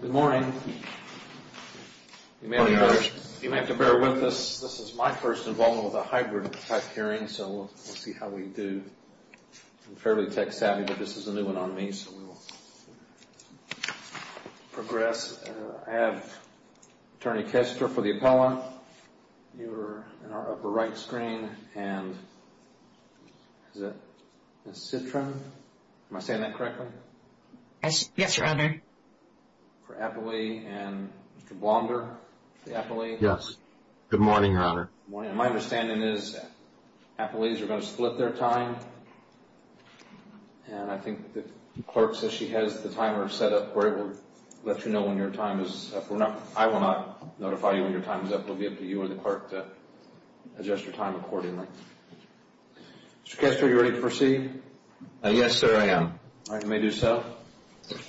Good morning. You may have to bear with us. This is my first involvement with a hybrid type hearing, so we'll see how we do. I'm fairly tech savvy, but this is a new one on me, so we'll progress. I have Attorney Kester for the appellant. You're in our upper right screen. And is it Ms. Citron? Am I saying that correctly? Yes, Your Honor. For appellee and Mr. Blonder, the appellee. Yes. Good morning, Your Honor. My understanding is appellees are going to split their time. And I think the clerk says she has the timer set up where it will let you know when your time is up. I will not notify you when your time is up. It will be up to you or the clerk to adjust your time accordingly. Mr. Kester, are you ready to proceed? Yes, sir, I am. All right. You may do so.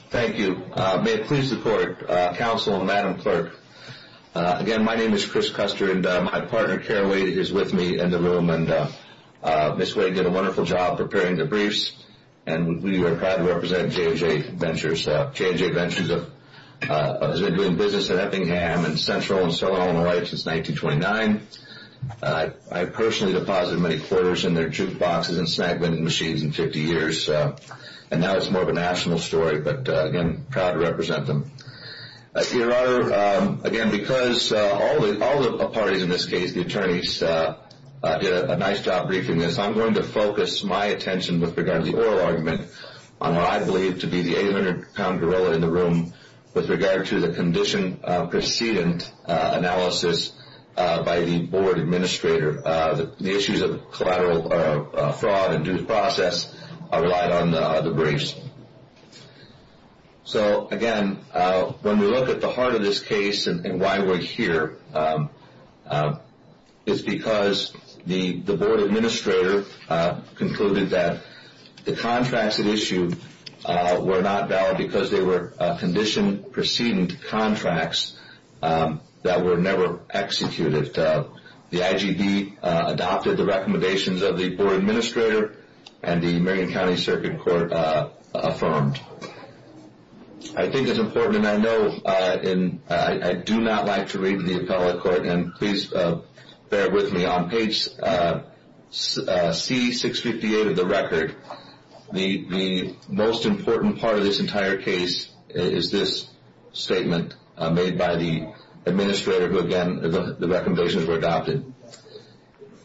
Thank you. May it please the Court, Counsel, and Madam Clerk. Again, my name is Chris Kester, and my partner, Karen Wade, is with me in the room. Ms. Wade did a wonderful job preparing the briefs, and we are proud to represent J&J Ventures. J&J Ventures has been doing business in Eppingham and Central and Southern Illinois since 1929. I personally deposited many quarters in their jukeboxes and snack vending machines in 50 years, and now it's more of a national story, but, again, proud to represent them. Your Honor, again, because all the parties in this case, the attorneys, did a nice job briefing this, I'm going to focus my attention with regard to the oral argument on what I believe to be the 800-pound gorilla in the room with regard to the condition precedent analysis by the Board Administrator. The issues of fraud and due process are relied on the briefs. So, again, when we look at the heart of this case and why we're here, it's because the Board Administrator concluded that the contracts it issued were not valid because they were condition precedent contracts that were never executed. The IGB adopted the recommendations of the Board Administrator, and the Marion County Circuit Court affirmed. I think it's important, and I know, and I do not like to read the appellate court, and please bear with me. On page C658 of the record, the most important part of this entire case is this statement made by the Administrator, who, again, the recommendations were adopted.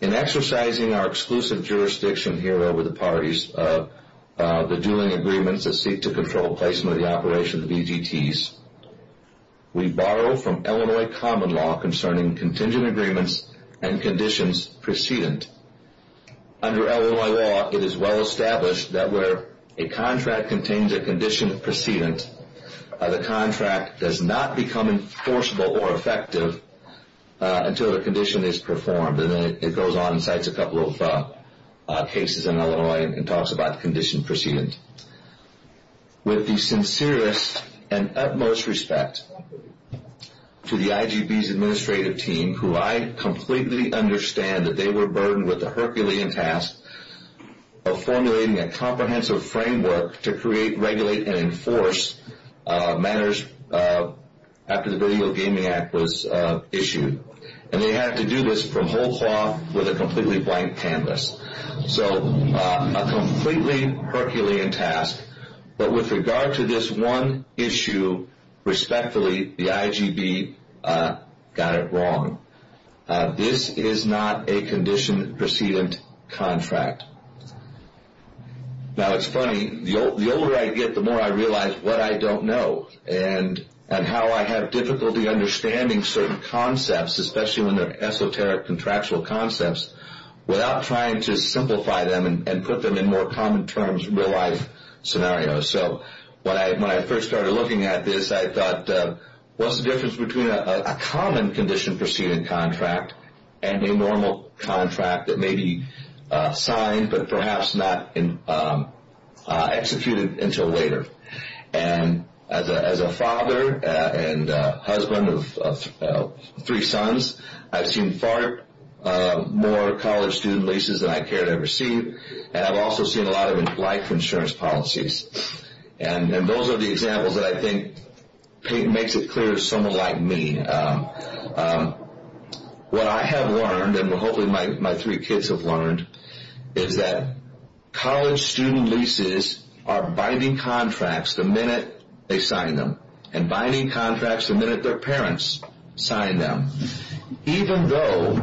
In exercising our exclusive jurisdiction here over the parties, the dueling agreements that seek to control placement of the operations of EGTs, we borrow from Illinois common law concerning contingent agreements and conditions precedent. Under Illinois law, it is well established that where a contract contains a condition precedent, the contract does not become enforceable or effective until the condition is performed. And then it goes on and cites a couple of cases in Illinois and talks about condition precedent. With the sincerest and utmost respect to the IGB's administrative team, who I completely understand that they were burdened with the Herculean task of formulating a comprehensive framework to create, regulate, and enforce matters after the Video Gaming Act was issued. And they had to do this from whole cloth with a completely blank canvas. So a completely Herculean task. But with regard to this one issue, respectfully, the IGB got it wrong. This is not a condition precedent contract. Now it's funny, the older I get, the more I realize what I don't know and how I have difficulty understanding certain concepts, especially when they're esoteric contractual concepts, without trying to simplify them and put them in more common terms real life scenarios. So when I first started looking at this, I thought, what's the difference between a common condition precedent contract and a normal contract that may be signed but perhaps not executed until later? And as a father and husband of three sons, I've seen far more college student leases than I care to ever see. And I've also seen a lot of life insurance policies. And those are the examples that I think makes it clear to someone like me. What I have learned, and hopefully my three kids have learned, is that college student leases are binding contracts the minute they sign them and binding contracts the minute their parents sign them. Even though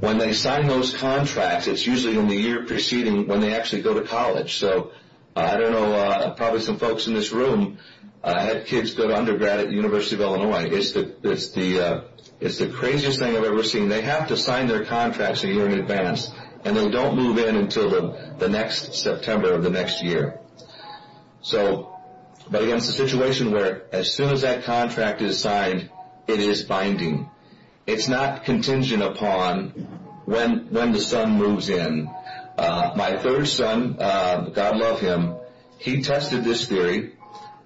when they sign those contracts, it's usually in the year preceding when they actually go to college. So I don't know, probably some folks in this room had kids go to undergrad at the University of Illinois. It's the craziest thing I've ever seen. They have to sign their contracts a year in advance, and they don't move in until the next September of the next year. But again, it's a situation where as soon as that contract is signed, it is binding. It's not contingent upon when the son moves in. My third son, God love him, he tested this theory.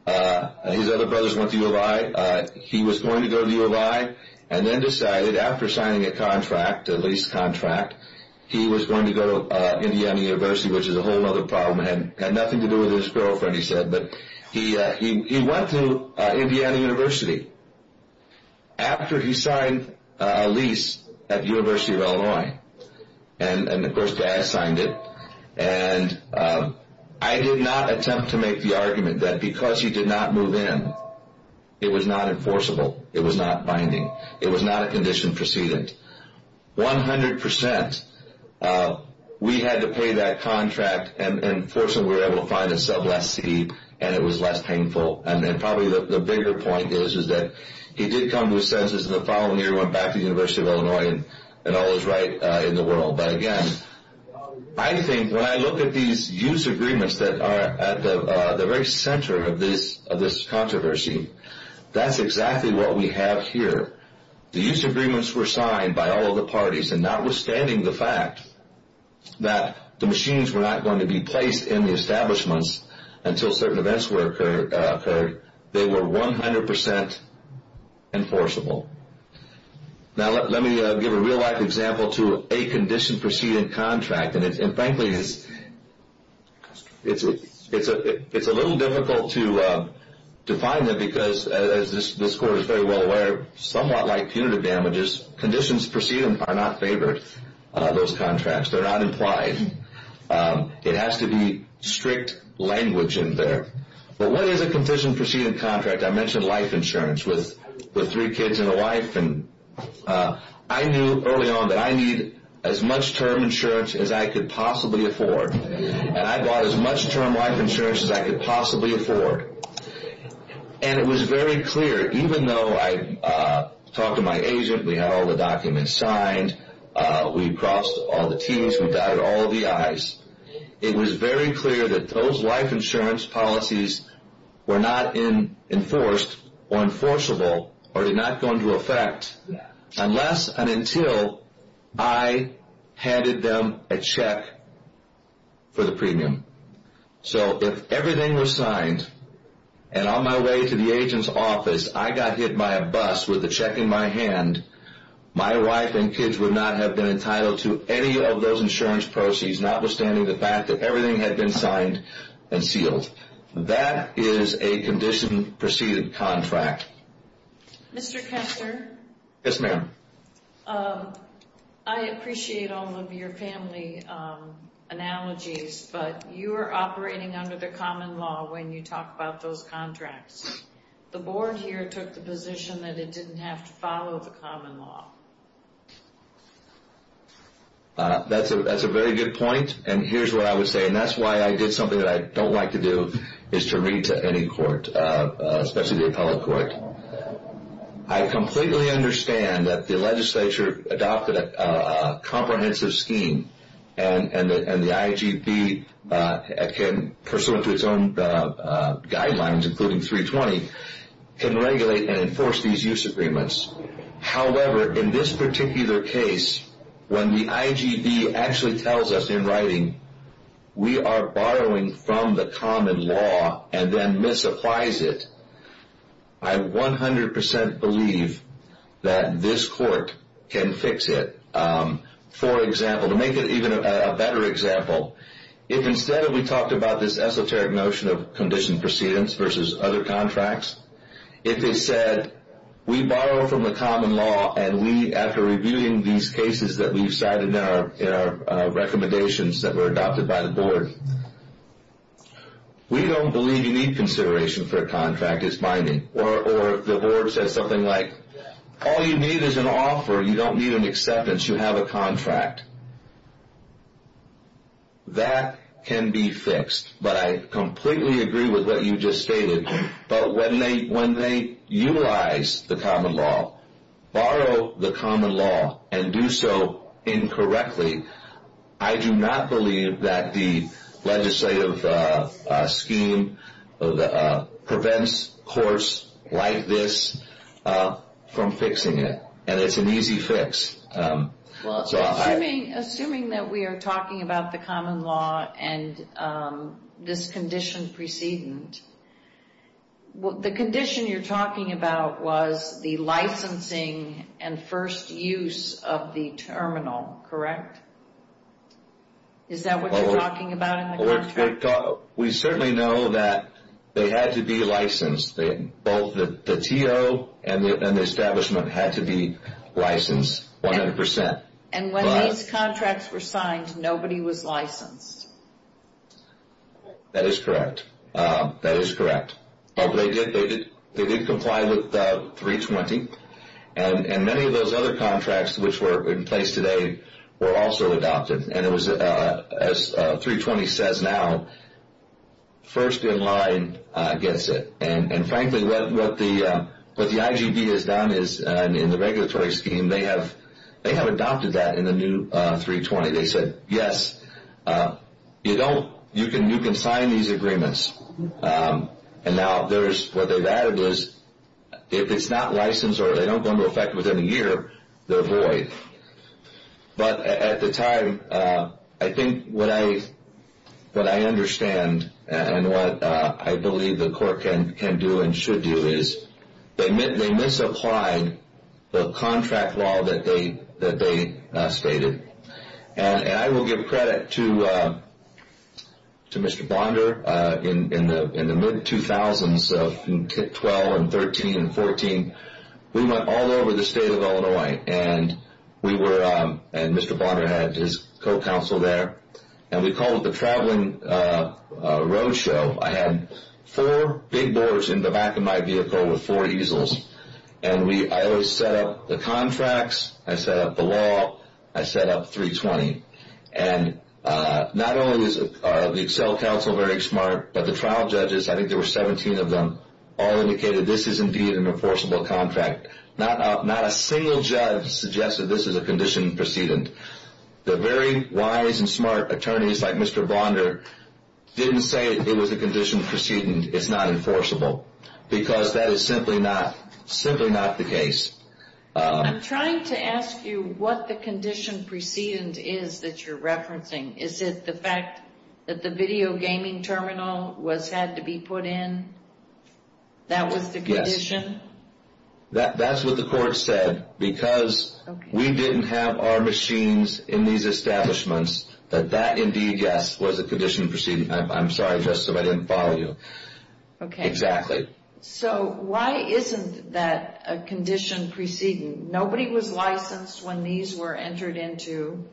His other brothers went to U of I. He was going to go to U of I and then decided after signing a contract, a lease contract, he was going to go to Indiana University, which is a whole other problem. It had nothing to do with his girlfriend, he said. But he went to Indiana University after he signed a lease at the University of Illinois. And, of course, Dad signed it. I did not attempt to make the argument that because he did not move in, it was not enforceable. It was not binding. It was not a condition precedent. One hundred percent, we had to pay that contract, and fortunately we were able to find a sub lessee, and it was less painful. And probably the bigger point is that he did come to his senses the following year, went back to the University of Illinois, and all is right in the world. But, again, I think when I look at these use agreements that are at the very center of this controversy, that's exactly what we have here. The use agreements were signed by all of the parties, and notwithstanding the fact that the machines were not going to be placed in the establishments until certain events occurred, they were 100 percent enforceable. Now, let me give a real-life example to a condition precedent contract. And, frankly, it's a little difficult to define that because, as this Court is very well aware, somewhat like punitive damages, conditions precedent are not favored, those contracts. They're not implied. It has to be strict language in there. But what is a condition precedent contract? I mentioned life insurance with three kids and a wife. And I knew early on that I need as much term insurance as I could possibly afford. And I bought as much term life insurance as I could possibly afford. And it was very clear, even though I talked to my agent, we had all the documents signed, we crossed all the T's, we dotted all the I's, it was very clear that those life insurance policies were not enforced or enforceable or did not go into effect unless and until I handed them a check for the premium. So if everything was signed and on my way to the agent's office, I got hit by a bus with a check in my hand, my wife and kids would not have been entitled to any of those insurance proceeds, notwithstanding the fact that everything had been signed and sealed. That is a condition precedent contract. Mr. Kester? Yes, ma'am. I appreciate all of your family analogies, but you are operating under the common law when you talk about those contracts. The board here took the position that it didn't have to follow the common law. That's a very good point, and here's what I would say, and that's why I did something that I don't like to do, is to read to any court, especially the appellate court. I completely understand that the legislature adopted a comprehensive scheme, and the IGB can, pursuant to its own guidelines, including 320, can regulate and enforce these use agreements. However, in this particular case, when the IGB actually tells us in writing, we are borrowing from the common law and then misapplies it, I 100% believe that this court can fix it. For example, to make it even a better example, if instead we talked about this esoteric notion of condition precedents versus other contracts, if they said, we borrow from the common law, and we, after reviewing these cases that we've cited in our recommendations that were adopted by the board, we don't believe you need consideration for a contract as binding. Or the board says something like, all you need is an offer, you don't need an acceptance, you have a contract. That can be fixed, but I completely agree with what you just stated. But when they utilize the common law, borrow the common law, and do so incorrectly, I do not believe that the legislative scheme prevents courts like this from fixing it. And it's an easy fix. Assuming that we are talking about the common law and this condition precedent, the condition you're talking about was the licensing and first use of the terminal, correct? Is that what you're talking about in the contract? We certainly know that they had to be licensed. Both the TO and the establishment had to be licensed 100%. And when these contracts were signed, nobody was licensed. That is correct. That is correct. But they did comply with 320. And many of those other contracts which were in place today were also adopted. As 320 says now, first in line gets it. And, frankly, what the IGD has done is in the regulatory scheme, they have adopted that in the new 320. They said, yes, you can sign these agreements. And now what they've added is if it's not licensed or they don't go into effect within a year, they're void. But at the time, I think what I understand and what I believe the court can do and should do is they misapplied the contract law that they stated. And I will give credit to Mr. Bonder. In the mid-2000s, 2012 and 2013 and 2014, we went all over the state of Illinois and Mr. Bonder had his co-counsel there. And we called it the traveling road show. I had four big boards in the back of my vehicle with four easels. And I always set up the contracts. I set up the law. I set up 320. And not only are the Excel counsel very smart, but the trial judges, I think there were 17 of them, all indicated this is indeed an enforceable contract. Not a single judge suggested this is a condition precedent. The very wise and smart attorneys like Mr. Bonder didn't say it was a condition precedent. It's not enforceable because that is simply not the case. I'm trying to ask you what the condition precedent is that you're referencing. Is it the fact that the video gaming terminal had to be put in? That was the condition? That's what the court said. Because we didn't have our machines in these establishments, that that indeed, yes, was a condition precedent. I'm sorry, Justice, if I didn't follow you. Okay. Exactly. So why isn't that a condition precedent? Nobody was licensed when these were entered into.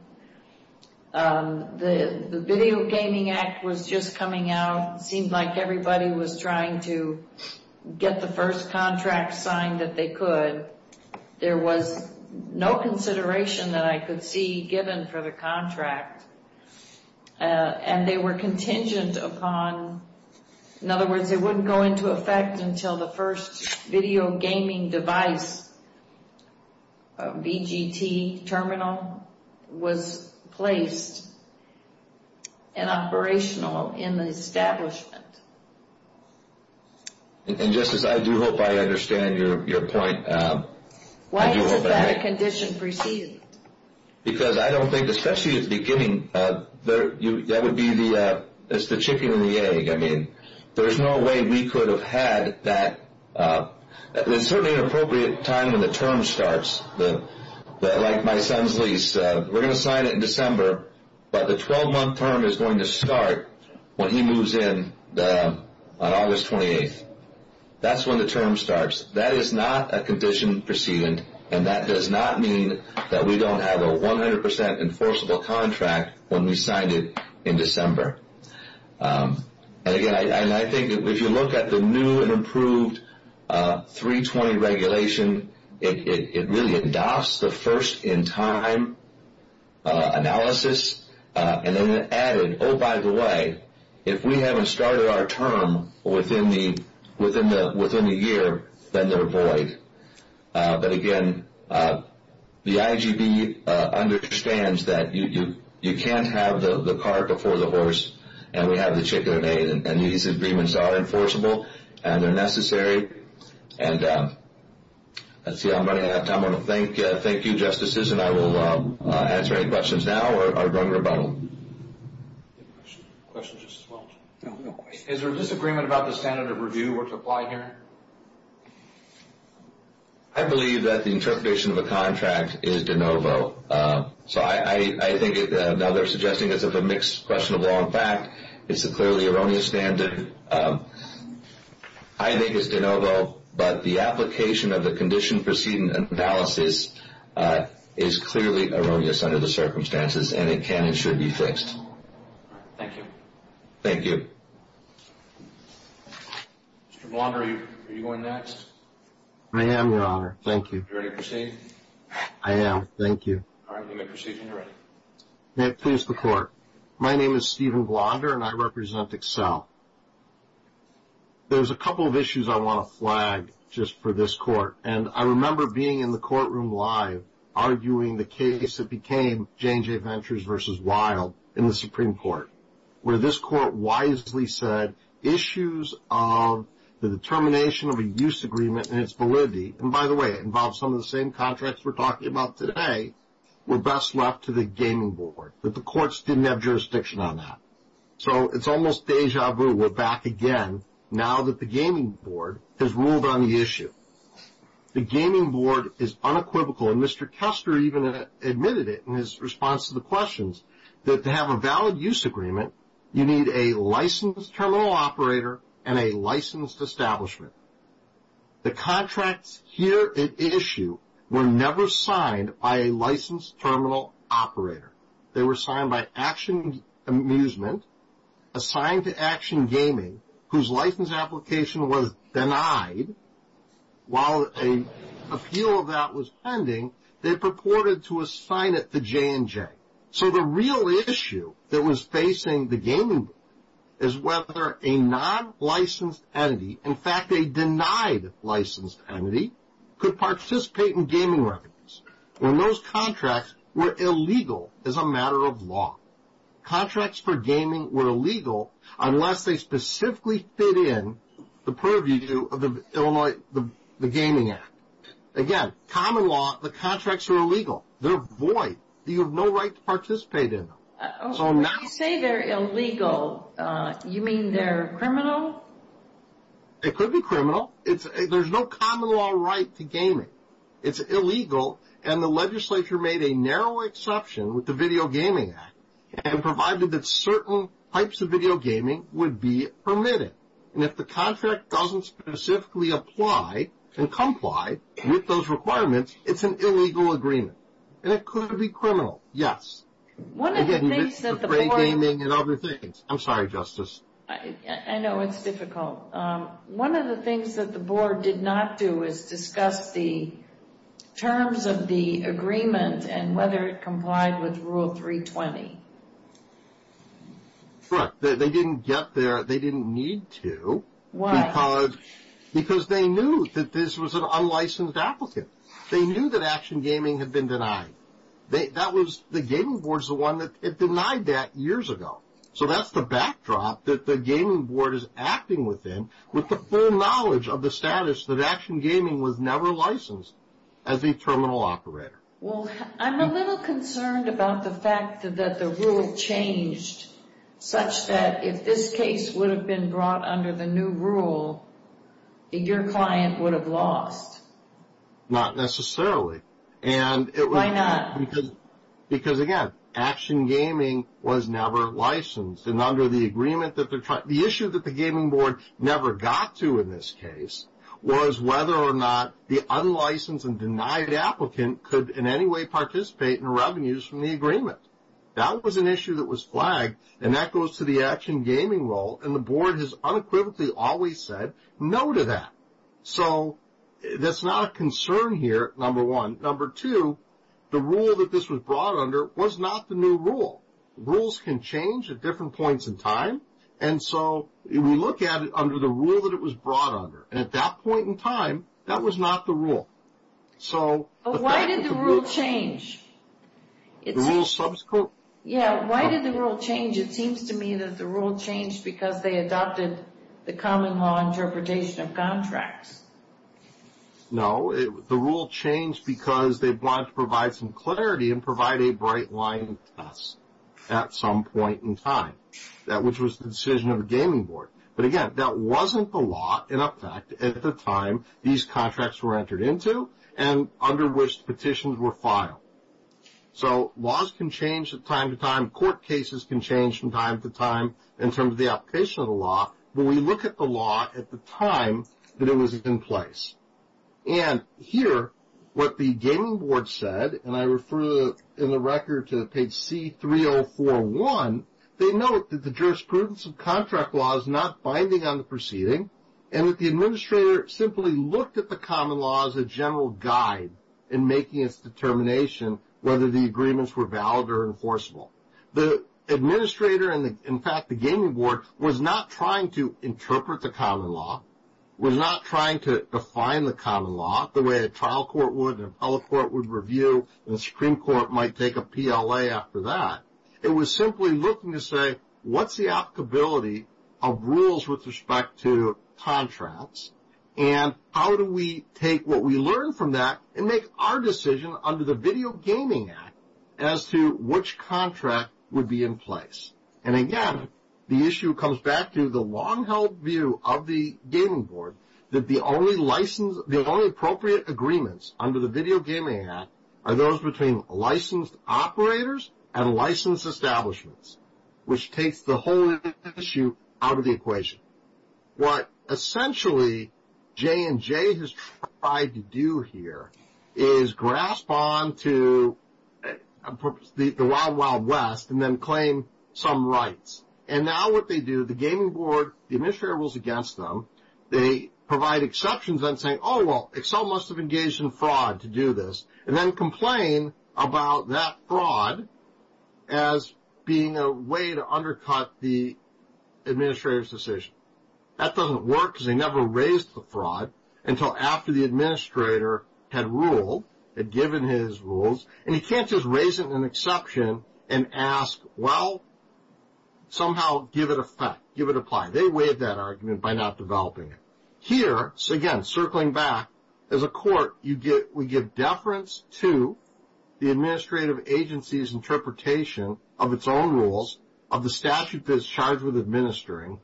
The Video Gaming Act was just coming out. It seemed like everybody was trying to get the first contract signed that they could. There was no consideration that I could see given for the contract. And they were contingent upon, in other words, it wouldn't go into effect until the first video gaming device, VGT terminal, was placed and operational in the establishment. And, Justice, I do hope I understand your point. Why isn't that a condition precedent? Because I don't think, especially at the beginning, that would be the chicken and the egg. I mean, there's no way we could have had that. There's certainly an appropriate time when the term starts, like my son's lease. We're going to sign it in December, but the 12-month term is going to start when he moves in on August 28th. That's when the term starts. That is not a condition precedent, and that does not mean that we don't have a 100% enforceable contract when we signed it in December. And, again, I think if you look at the new and improved 320 regulation, it really adopts the first-in-time analysis. And then it added, oh, by the way, if we haven't started our term within the year, then they're void. But, again, the IGB understands that you can't have the cart before the horse, and we have the chicken and egg, and these agreements are enforceable, and they're necessary. And let's see, I'm running out of time. I want to thank you, Justices, and I will answer any questions now or run rebuttal. Is there a disagreement about the standard of review or to apply here? I believe that the interpretation of a contract is de novo. So I think, now they're suggesting it's a mixed question of law and fact. It's a clearly erroneous standard. I think it's de novo, but the application of the condition proceeding analysis is clearly erroneous under the circumstances, and it can and should be fixed. Thank you. Thank you. Mr. Blonder, are you going next? I am, Your Honor. Thank you. Are you ready to proceed? I am. All right. You may proceed when you're ready. May it please the Court. My name is Stephen Blonder, and I represent Accel. There's a couple of issues I want to flag just for this Court, and I remember being in the courtroom live arguing the case that became J&J Ventures v. Wild in the Supreme Court, where this Court wisely said issues of the determination of a use agreement and its validity, and by the way, it involves some of the same contracts we're talking about today, were best left to the gaming board, but the courts didn't have jurisdiction on that. So it's almost deja vu. We're back again now that the gaming board has ruled on the issue. The gaming board is unequivocal, and Mr. Kester even admitted it in his response to the questions, that to have a valid use agreement, you need a licensed terminal operator and a licensed establishment. The contracts here at issue were never signed by a licensed terminal operator. They were signed by Action Amusement, assigned to Action Gaming, whose license application was denied. While an appeal of that was pending, they purported to assign it to J&J. So the real issue that was facing the gaming board is whether a non-licensed entity, in fact a denied licensed entity, could participate in gaming revenues, when those contracts were illegal as a matter of law. Contracts for gaming were illegal unless they specifically fit in the purview of the Illinois Gaming Act. Again, common law, the contracts are illegal. They're void. You have no right to participate in them. When you say they're illegal, you mean they're criminal? It could be criminal. There's no common law right to gaming. It's illegal, and the legislature made a narrow exception with the Video Gaming Act and provided that certain types of video gaming would be permitted. And if the contract doesn't specifically apply and comply with those requirements, it's an illegal agreement. And it could be criminal, yes. One of the things that the board — I didn't mention frayed gaming and other things. I'm sorry, Justice. I know it's difficult. One of the things that the board did not do is discuss the terms of the agreement and whether it complied with Rule 320. Correct. They didn't get there. They didn't need to. Why? Because they knew that this was an unlicensed applicant. They knew that action gaming had been denied. The gaming board is the one that denied that years ago. So that's the backdrop that the gaming board is acting within with the full knowledge of the status that action gaming was never licensed as a terminal operator. Well, I'm a little concerned about the fact that the rule changed such that if this case would have been brought under the new rule, your client would have lost. Not necessarily. Why not? Because, again, action gaming was never licensed. And under the agreement that they're trying — the issue that the gaming board never got to in this case was whether or not the unlicensed and denied applicant could in any way participate in revenues from the agreement. That was an issue that was flagged, and that goes to the action gaming role. And the board has unequivocally always said no to that. So that's not a concern here, number one. Number two, the rule that this was brought under was not the new rule. Rules can change at different points in time. And so we look at it under the rule that it was brought under. And at that point in time, that was not the rule. But why did the rule change? The rule subsequently — Yeah, why did the rule change? It seems to me that the rule changed because they adopted the common law interpretation of contracts. No, the rule changed because they wanted to provide some clarity and provide a bright-line test at some point in time, which was the decision of the gaming board. But, again, that wasn't the law in effect at the time these contracts were entered into and under which petitions were filed. So laws can change from time to time. Court cases can change from time to time in terms of the application of the law. But we look at the law at the time that it was in place. And here, what the gaming board said, and I refer in the record to page C-3041, they note that the jurisprudence of contract law is not binding on the proceeding and that the administrator simply looked at the common law as a general guide in making its determination whether the agreements were valid or enforceable. The administrator and, in fact, the gaming board was not trying to interpret the common law, was not trying to define the common law the way a trial court would, an appellate court would review, and a Supreme Court might take a PLA after that. It was simply looking to say, what's the applicability of rules with respect to contracts, and how do we take what we learn from that and make our decision under the Video Gaming Act as to which contract would be in place? And, again, the issue comes back to the long-held view of the gaming board that the only appropriate agreements under the Video Gaming Act are those between licensed operators and licensed establishments, which takes the whole issue out of the equation. What essentially J&J has tried to do here is grasp onto the wild, wild west and then claim some rights. And now what they do, the gaming board, the administrator rules against them. They provide exceptions on saying, oh, well, Excel must have engaged in fraud to do this, and then complain about that fraud as being a way to undercut the administrator's decision. That doesn't work because they never raised the fraud until after the administrator had ruled, had given his rules. And you can't just raise an exception and ask, well, somehow give it effect, give it apply. They waived that argument by not developing it. Here, again, circling back, as a court, we give deference to the administrative agency's interpretation of its own rules, of the statute that's charged with administering,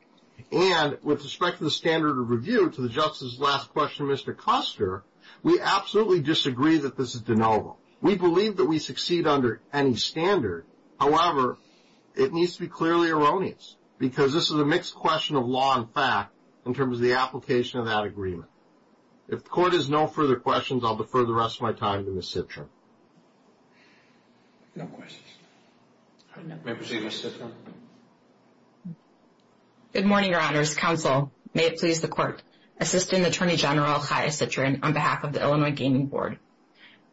and with respect to the standard of review to the Justice's last question, Mr. Custer, we absolutely disagree that this is de novo. We believe that we succeed under any standard. However, it needs to be clearly erroneous because this is a mixed question of law and fact in terms of the application of that agreement. If the court has no further questions, I'll defer the rest of my time to Ms. Citrin. No questions. I now present Ms. Citrin. Good morning, Your Honors. Counsel, may it please the court. Assistant Attorney General Chaya Citrin on behalf of the Illinois Gaming Board.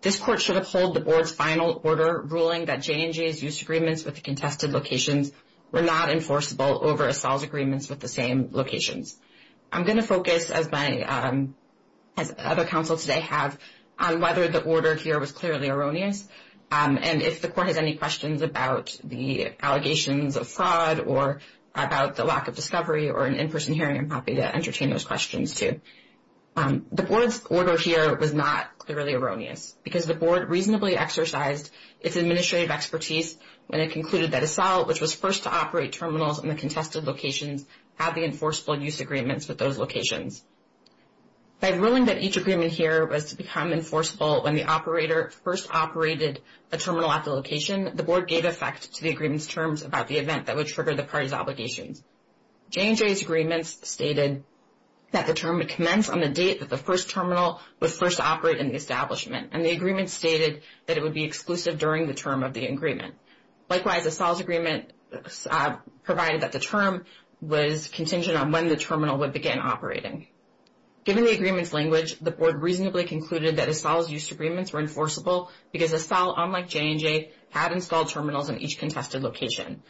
This court should uphold the board's final order ruling that J&J's use agreements with the contested locations were not enforceable over Assal's agreements with the same locations. I'm going to focus, as other counsels today have, on whether the order here was clearly erroneous and if the court has any questions about the allegations of fraud or about the lack of discovery or an in-person hearing, I'm happy to entertain those questions too. The board's order here was not clearly erroneous because the board reasonably exercised its administrative expertise when it concluded that Assal, which was first to operate terminals in the contested locations, had the enforceable use agreements with those locations. By ruling that each agreement here was to become enforceable when the operator first operated a terminal at the location, the board gave effect to the agreement's terms about the event that would trigger the parties' obligations. J&J's agreements stated that the term would commence on the date that the first terminal would first operate in the establishment, and the agreement stated that it would be exclusive during the term of the agreement. Likewise, Assal's agreement provided that the term was contingent on when the terminal would begin operating. Given the agreement's language, the board reasonably concluded that Assal's use agreements were enforceable because Assal, unlike J&J, had installed terminals in each contested location.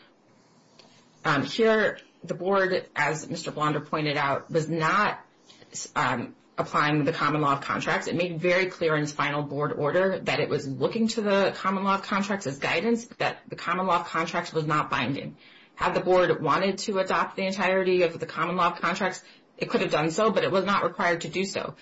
Here, the board, as Mr. Blonder pointed out, was not applying the common law of contracts. It made very clear in its final board order that it was looking to the common law of contracts as guidance, but that the common law of contracts was not binding. Had the board wanted to adopt the entirety of the common law of contracts, it could have done so, but it was not required to do so,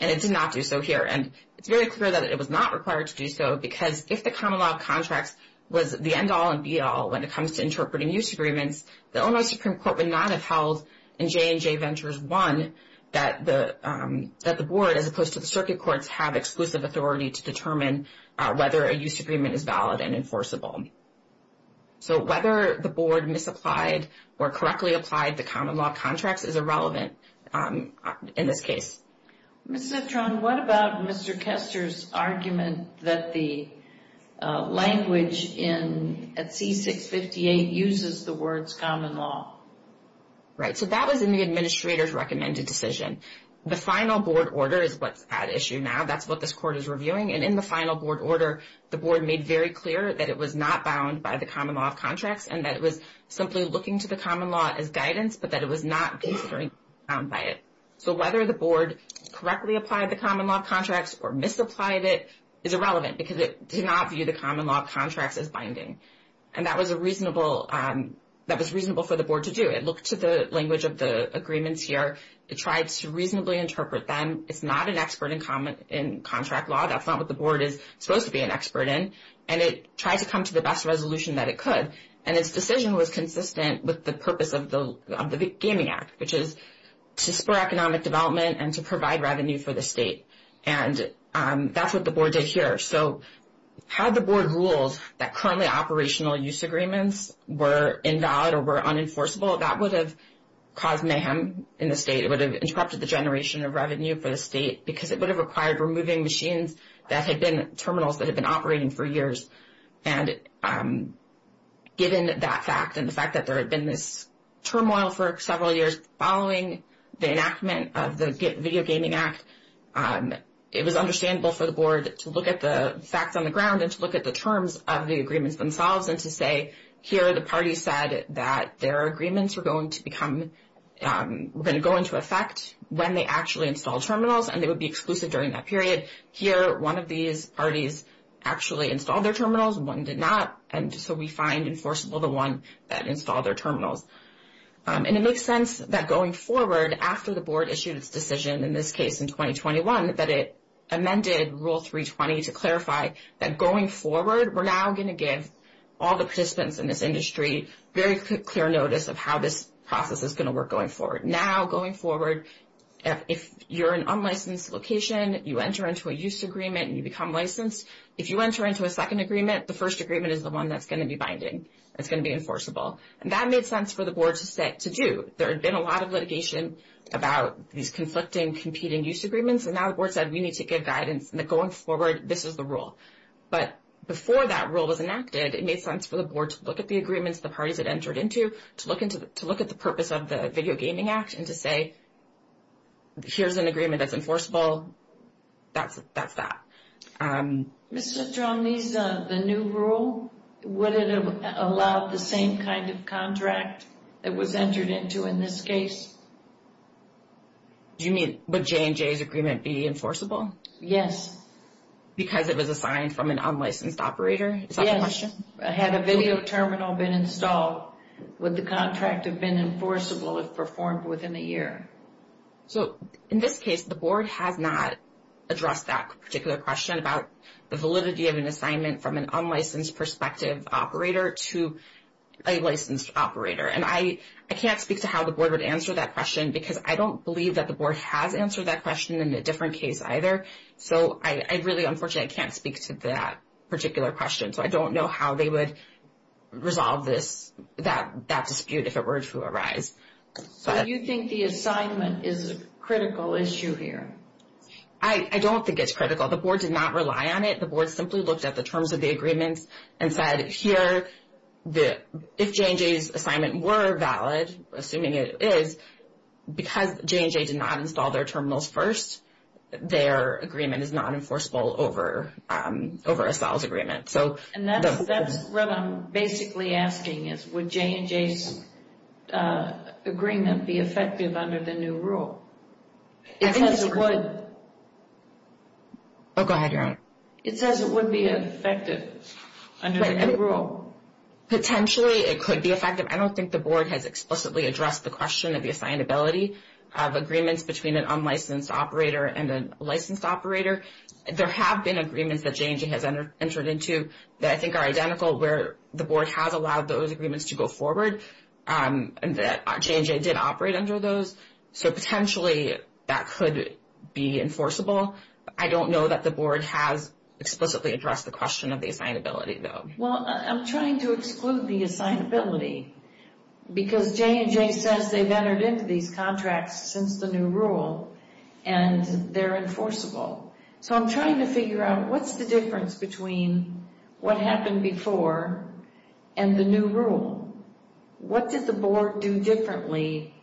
and it did not do so here. And it's very clear that it was not required to do so because if the common law of contracts was the end-all and be-all when it comes to interpreting use agreements, the Illinois Supreme Court would not have held in J&J Ventures 1 that the board, as opposed to the circuit courts, have exclusive authority to determine whether a use agreement is valid and enforceable. So whether the board misapplied or correctly applied the common law of contracts is irrelevant in this case. Ms. Zitron, what about Mr. Kester's argument that the language at C658 uses the words common law? Right, so that was in the administrator's recommended decision. The final board order is what's at issue now. That's what this court is reviewing, and in the final board order, the board made very clear that it was not bound by the common law of contracts and that it was simply looking to the common law as guidance, but that it was not considering bound by it. So whether the board correctly applied the common law of contracts or misapplied it is irrelevant because it did not view the common law of contracts as binding. And that was reasonable for the board to do. It looked to the language of the agreements here. It tried to reasonably interpret them. It's not an expert in contract law. That's not what the board is supposed to be an expert in. And it tried to come to the best resolution that it could, and its decision was consistent with the purpose of the Gaming Act, which is to spur economic development and to provide revenue for the state. And that's what the board did here. So had the board ruled that currently operational use agreements were invalid or were unenforceable, that would have caused mayhem in the state. It would have interrupted the generation of revenue for the state because it would have required removing machines that had been terminals that had been operating for years. And given that fact and the fact that there had been this turmoil for several years following the enactment of the Video Gaming Act, it was understandable for the board to look at the facts on the ground and to look at the terms of the agreements themselves and to say, here the parties said that their agreements were going to become, were going to go into effect when they actually installed terminals and they would be exclusive during that period. Here one of these parties actually installed their terminals and one did not, and so we find enforceable the one that installed their terminals. And it makes sense that going forward after the board issued its decision in this case in 2021 that it amended Rule 320 to clarify that going forward, we're now going to give all the participants in this industry very clear notice of how this process is going to work going forward. Now going forward, if you're an unlicensed location, you enter into a use agreement and you become licensed. If you enter into a second agreement, the first agreement is the one that's going to be binding. It's going to be enforceable. And that made sense for the board to do. There had been a lot of litigation about these conflicting competing use agreements, and now the board said we need to give guidance that going forward, this is the rule. But before that rule was enacted, it made sense for the board to look at the agreements the parties had entered into, to look at the purpose of the Video Gaming Act and to say here's an agreement that's enforceable. That's that. Ms. Zitromny, the new rule, would it have allowed the same kind of contract that was entered into in this case? Do you mean would J&J's agreement be enforceable? Yes. Because it was assigned from an unlicensed operator? Yes. Had a video terminal been installed, would the contract have been enforceable if performed within a year? So in this case, the board has not addressed that particular question about the validity of an assignment from an unlicensed prospective operator to a licensed operator. And I can't speak to how the board would answer that question because I don't believe that the board has answered that question in a different case either. So I really, unfortunately, I can't speak to that particular question. So I don't know how they would resolve that dispute if it were to arise. So you think the assignment is a critical issue here? I don't think it's critical. The board did not rely on it. The board simply looked at the terms of the agreements and said here, if J&J's assignment were valid, assuming it is, because J&J did not install their terminals first, their agreement is not enforceable over Estelle's agreement. And that's what I'm basically asking is would J&J's agreement be effective under the new rule? It says it would. Oh, go ahead, Yaron. It says it would be effective under the new rule. Potentially it could be effective. I don't think the board has explicitly addressed the question of the assignability of agreements between an unlicensed operator and a licensed operator. There have been agreements that J&J has entered into that I think are identical where the board has allowed those agreements to go forward, and that J&J did operate under those. So potentially that could be enforceable. I don't know that the board has explicitly addressed the question of the assignability, though. Well, I'm trying to exclude the assignability because J&J says they've entered into these contracts since the new rule and they're enforceable. So I'm trying to figure out what's the difference between what happened before and the new rule? What did the board do differently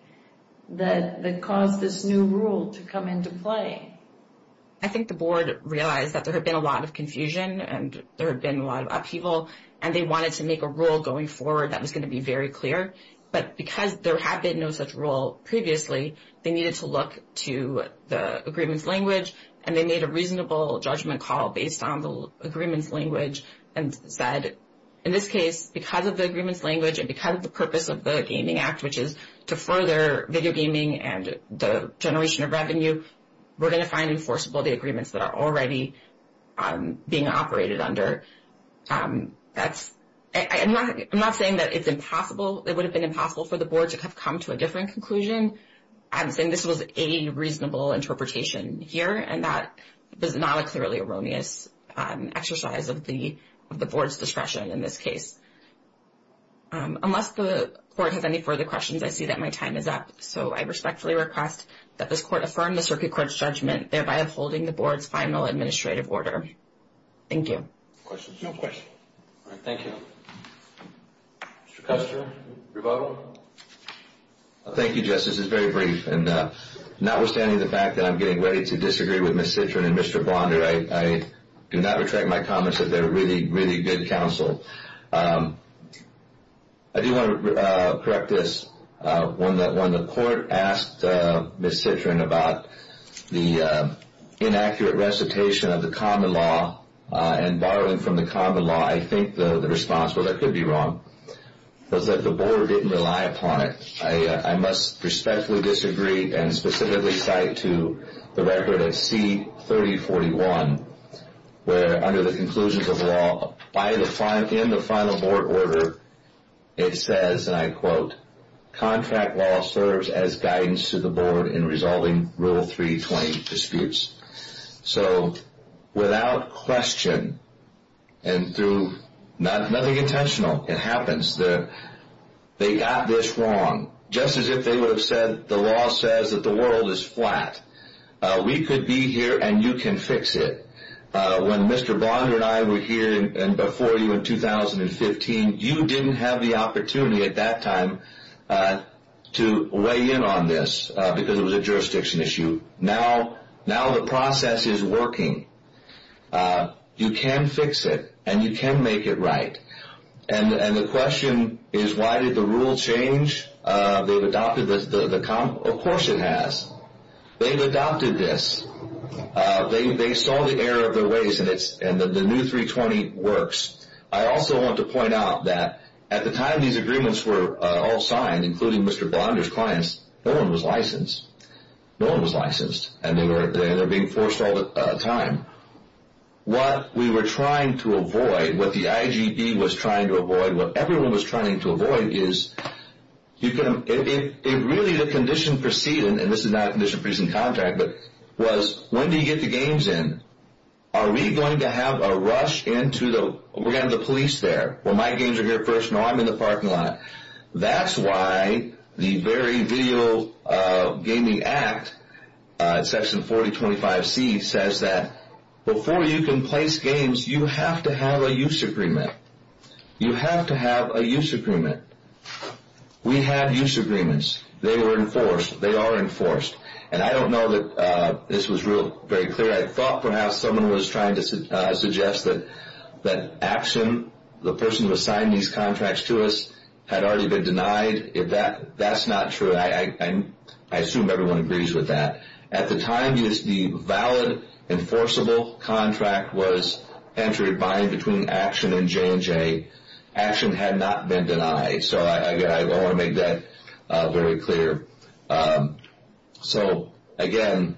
that caused this new rule to come into play? I think the board realized that there had been a lot of confusion and there had been a lot of upheaval, and they wanted to make a rule going forward that was going to be very clear. But because there had been no such rule previously, they needed to look to the agreements language, and they made a reasonable judgment call based on the agreements language and said in this case because of the agreements language and because of the purpose of the Gaming Act, which is to further video gaming and the generation of revenue, we're going to find enforceable the agreements that are already being operated under. I'm not saying that it's impossible. It would have been impossible for the board to have come to a different conclusion. I'm saying this was a reasonable interpretation here, and that is not a clearly erroneous exercise of the board's discretion in this case. Unless the court has any further questions, I see that my time is up. So I respectfully request that this court affirm the Circuit Court's judgment, thereby upholding the board's final administrative order. Thank you. Questions? No questions. All right, thank you. Mr. Custer, rebuttal? Thank you, Justice. This is very brief, and notwithstanding the fact that I'm getting ready to disagree with Ms. Citrin and Mr. Blonder, I do not retract my comments that they're really, really good counsel. I do want to correct this. When the court asked Ms. Citrin about the inaccurate recitation of the common law and borrowing from the common law, I think the response was I could be wrong. It was that the board didn't rely upon it. I must respectfully disagree and specifically cite to the record of C-3041, where under the conclusions of the law, in the final board order, it says, and I quote, contract law serves as guidance to the board in resolving Rule 320 disputes. So without question and through nothing intentional, it happens, they got this wrong. Just as if they would have said the law says that the world is flat. We could be here, and you can fix it. When Mr. Blonder and I were here before you in 2015, you didn't have the opportunity at that time to weigh in on this because it was a jurisdiction issue. Now the process is working. You can fix it, and you can make it right. And the question is why did the rule change? Of course it has. They've adopted this. They saw the error of their ways, and the new 320 works. I also want to point out that at the time these agreements were all signed, including Mr. Blonder's clients, no one was licensed. No one was licensed, and they were being forced all the time. What we were trying to avoid, what the IGE was trying to avoid, what everyone was trying to avoid is really the condition preceding, and this is not a condition of freezing contact, but was when do you get the games in? Are we going to have a rush into the police there? Well, my games are here first, and I'm in the parking lot. That's why the very video gaming act, section 4025C, says that before you can place games, you have to have a use agreement. You have to have a use agreement. We had use agreements. They were enforced. They are enforced. And I don't know that this was very clear. I thought perhaps someone was trying to suggest that action, the person who assigned these contracts to us, had already been denied. That's not true. I assume everyone agrees with that. At the time, the valid enforceable contract was entry binding between Action and J&J. Action had not been denied. So I want to make that very clear. So, again,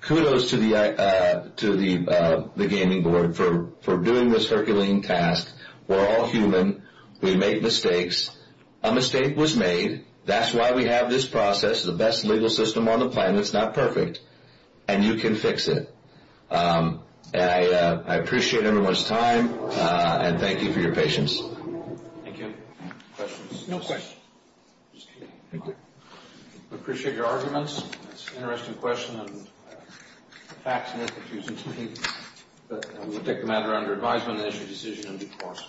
kudos to the gaming board for doing this Herculean task. We're all human. We make mistakes. A mistake was made. That's why we have this process. It's the best legal system on the planet. It's not perfect. And you can fix it. I appreciate everyone's time, and thank you for your patience. Thank you. Questions? No questions. Just kidding. Thank you. I appreciate your arguments. It's an interesting question, and facts and information to me. But we'll take the matter under advisement and issue a decision in due course.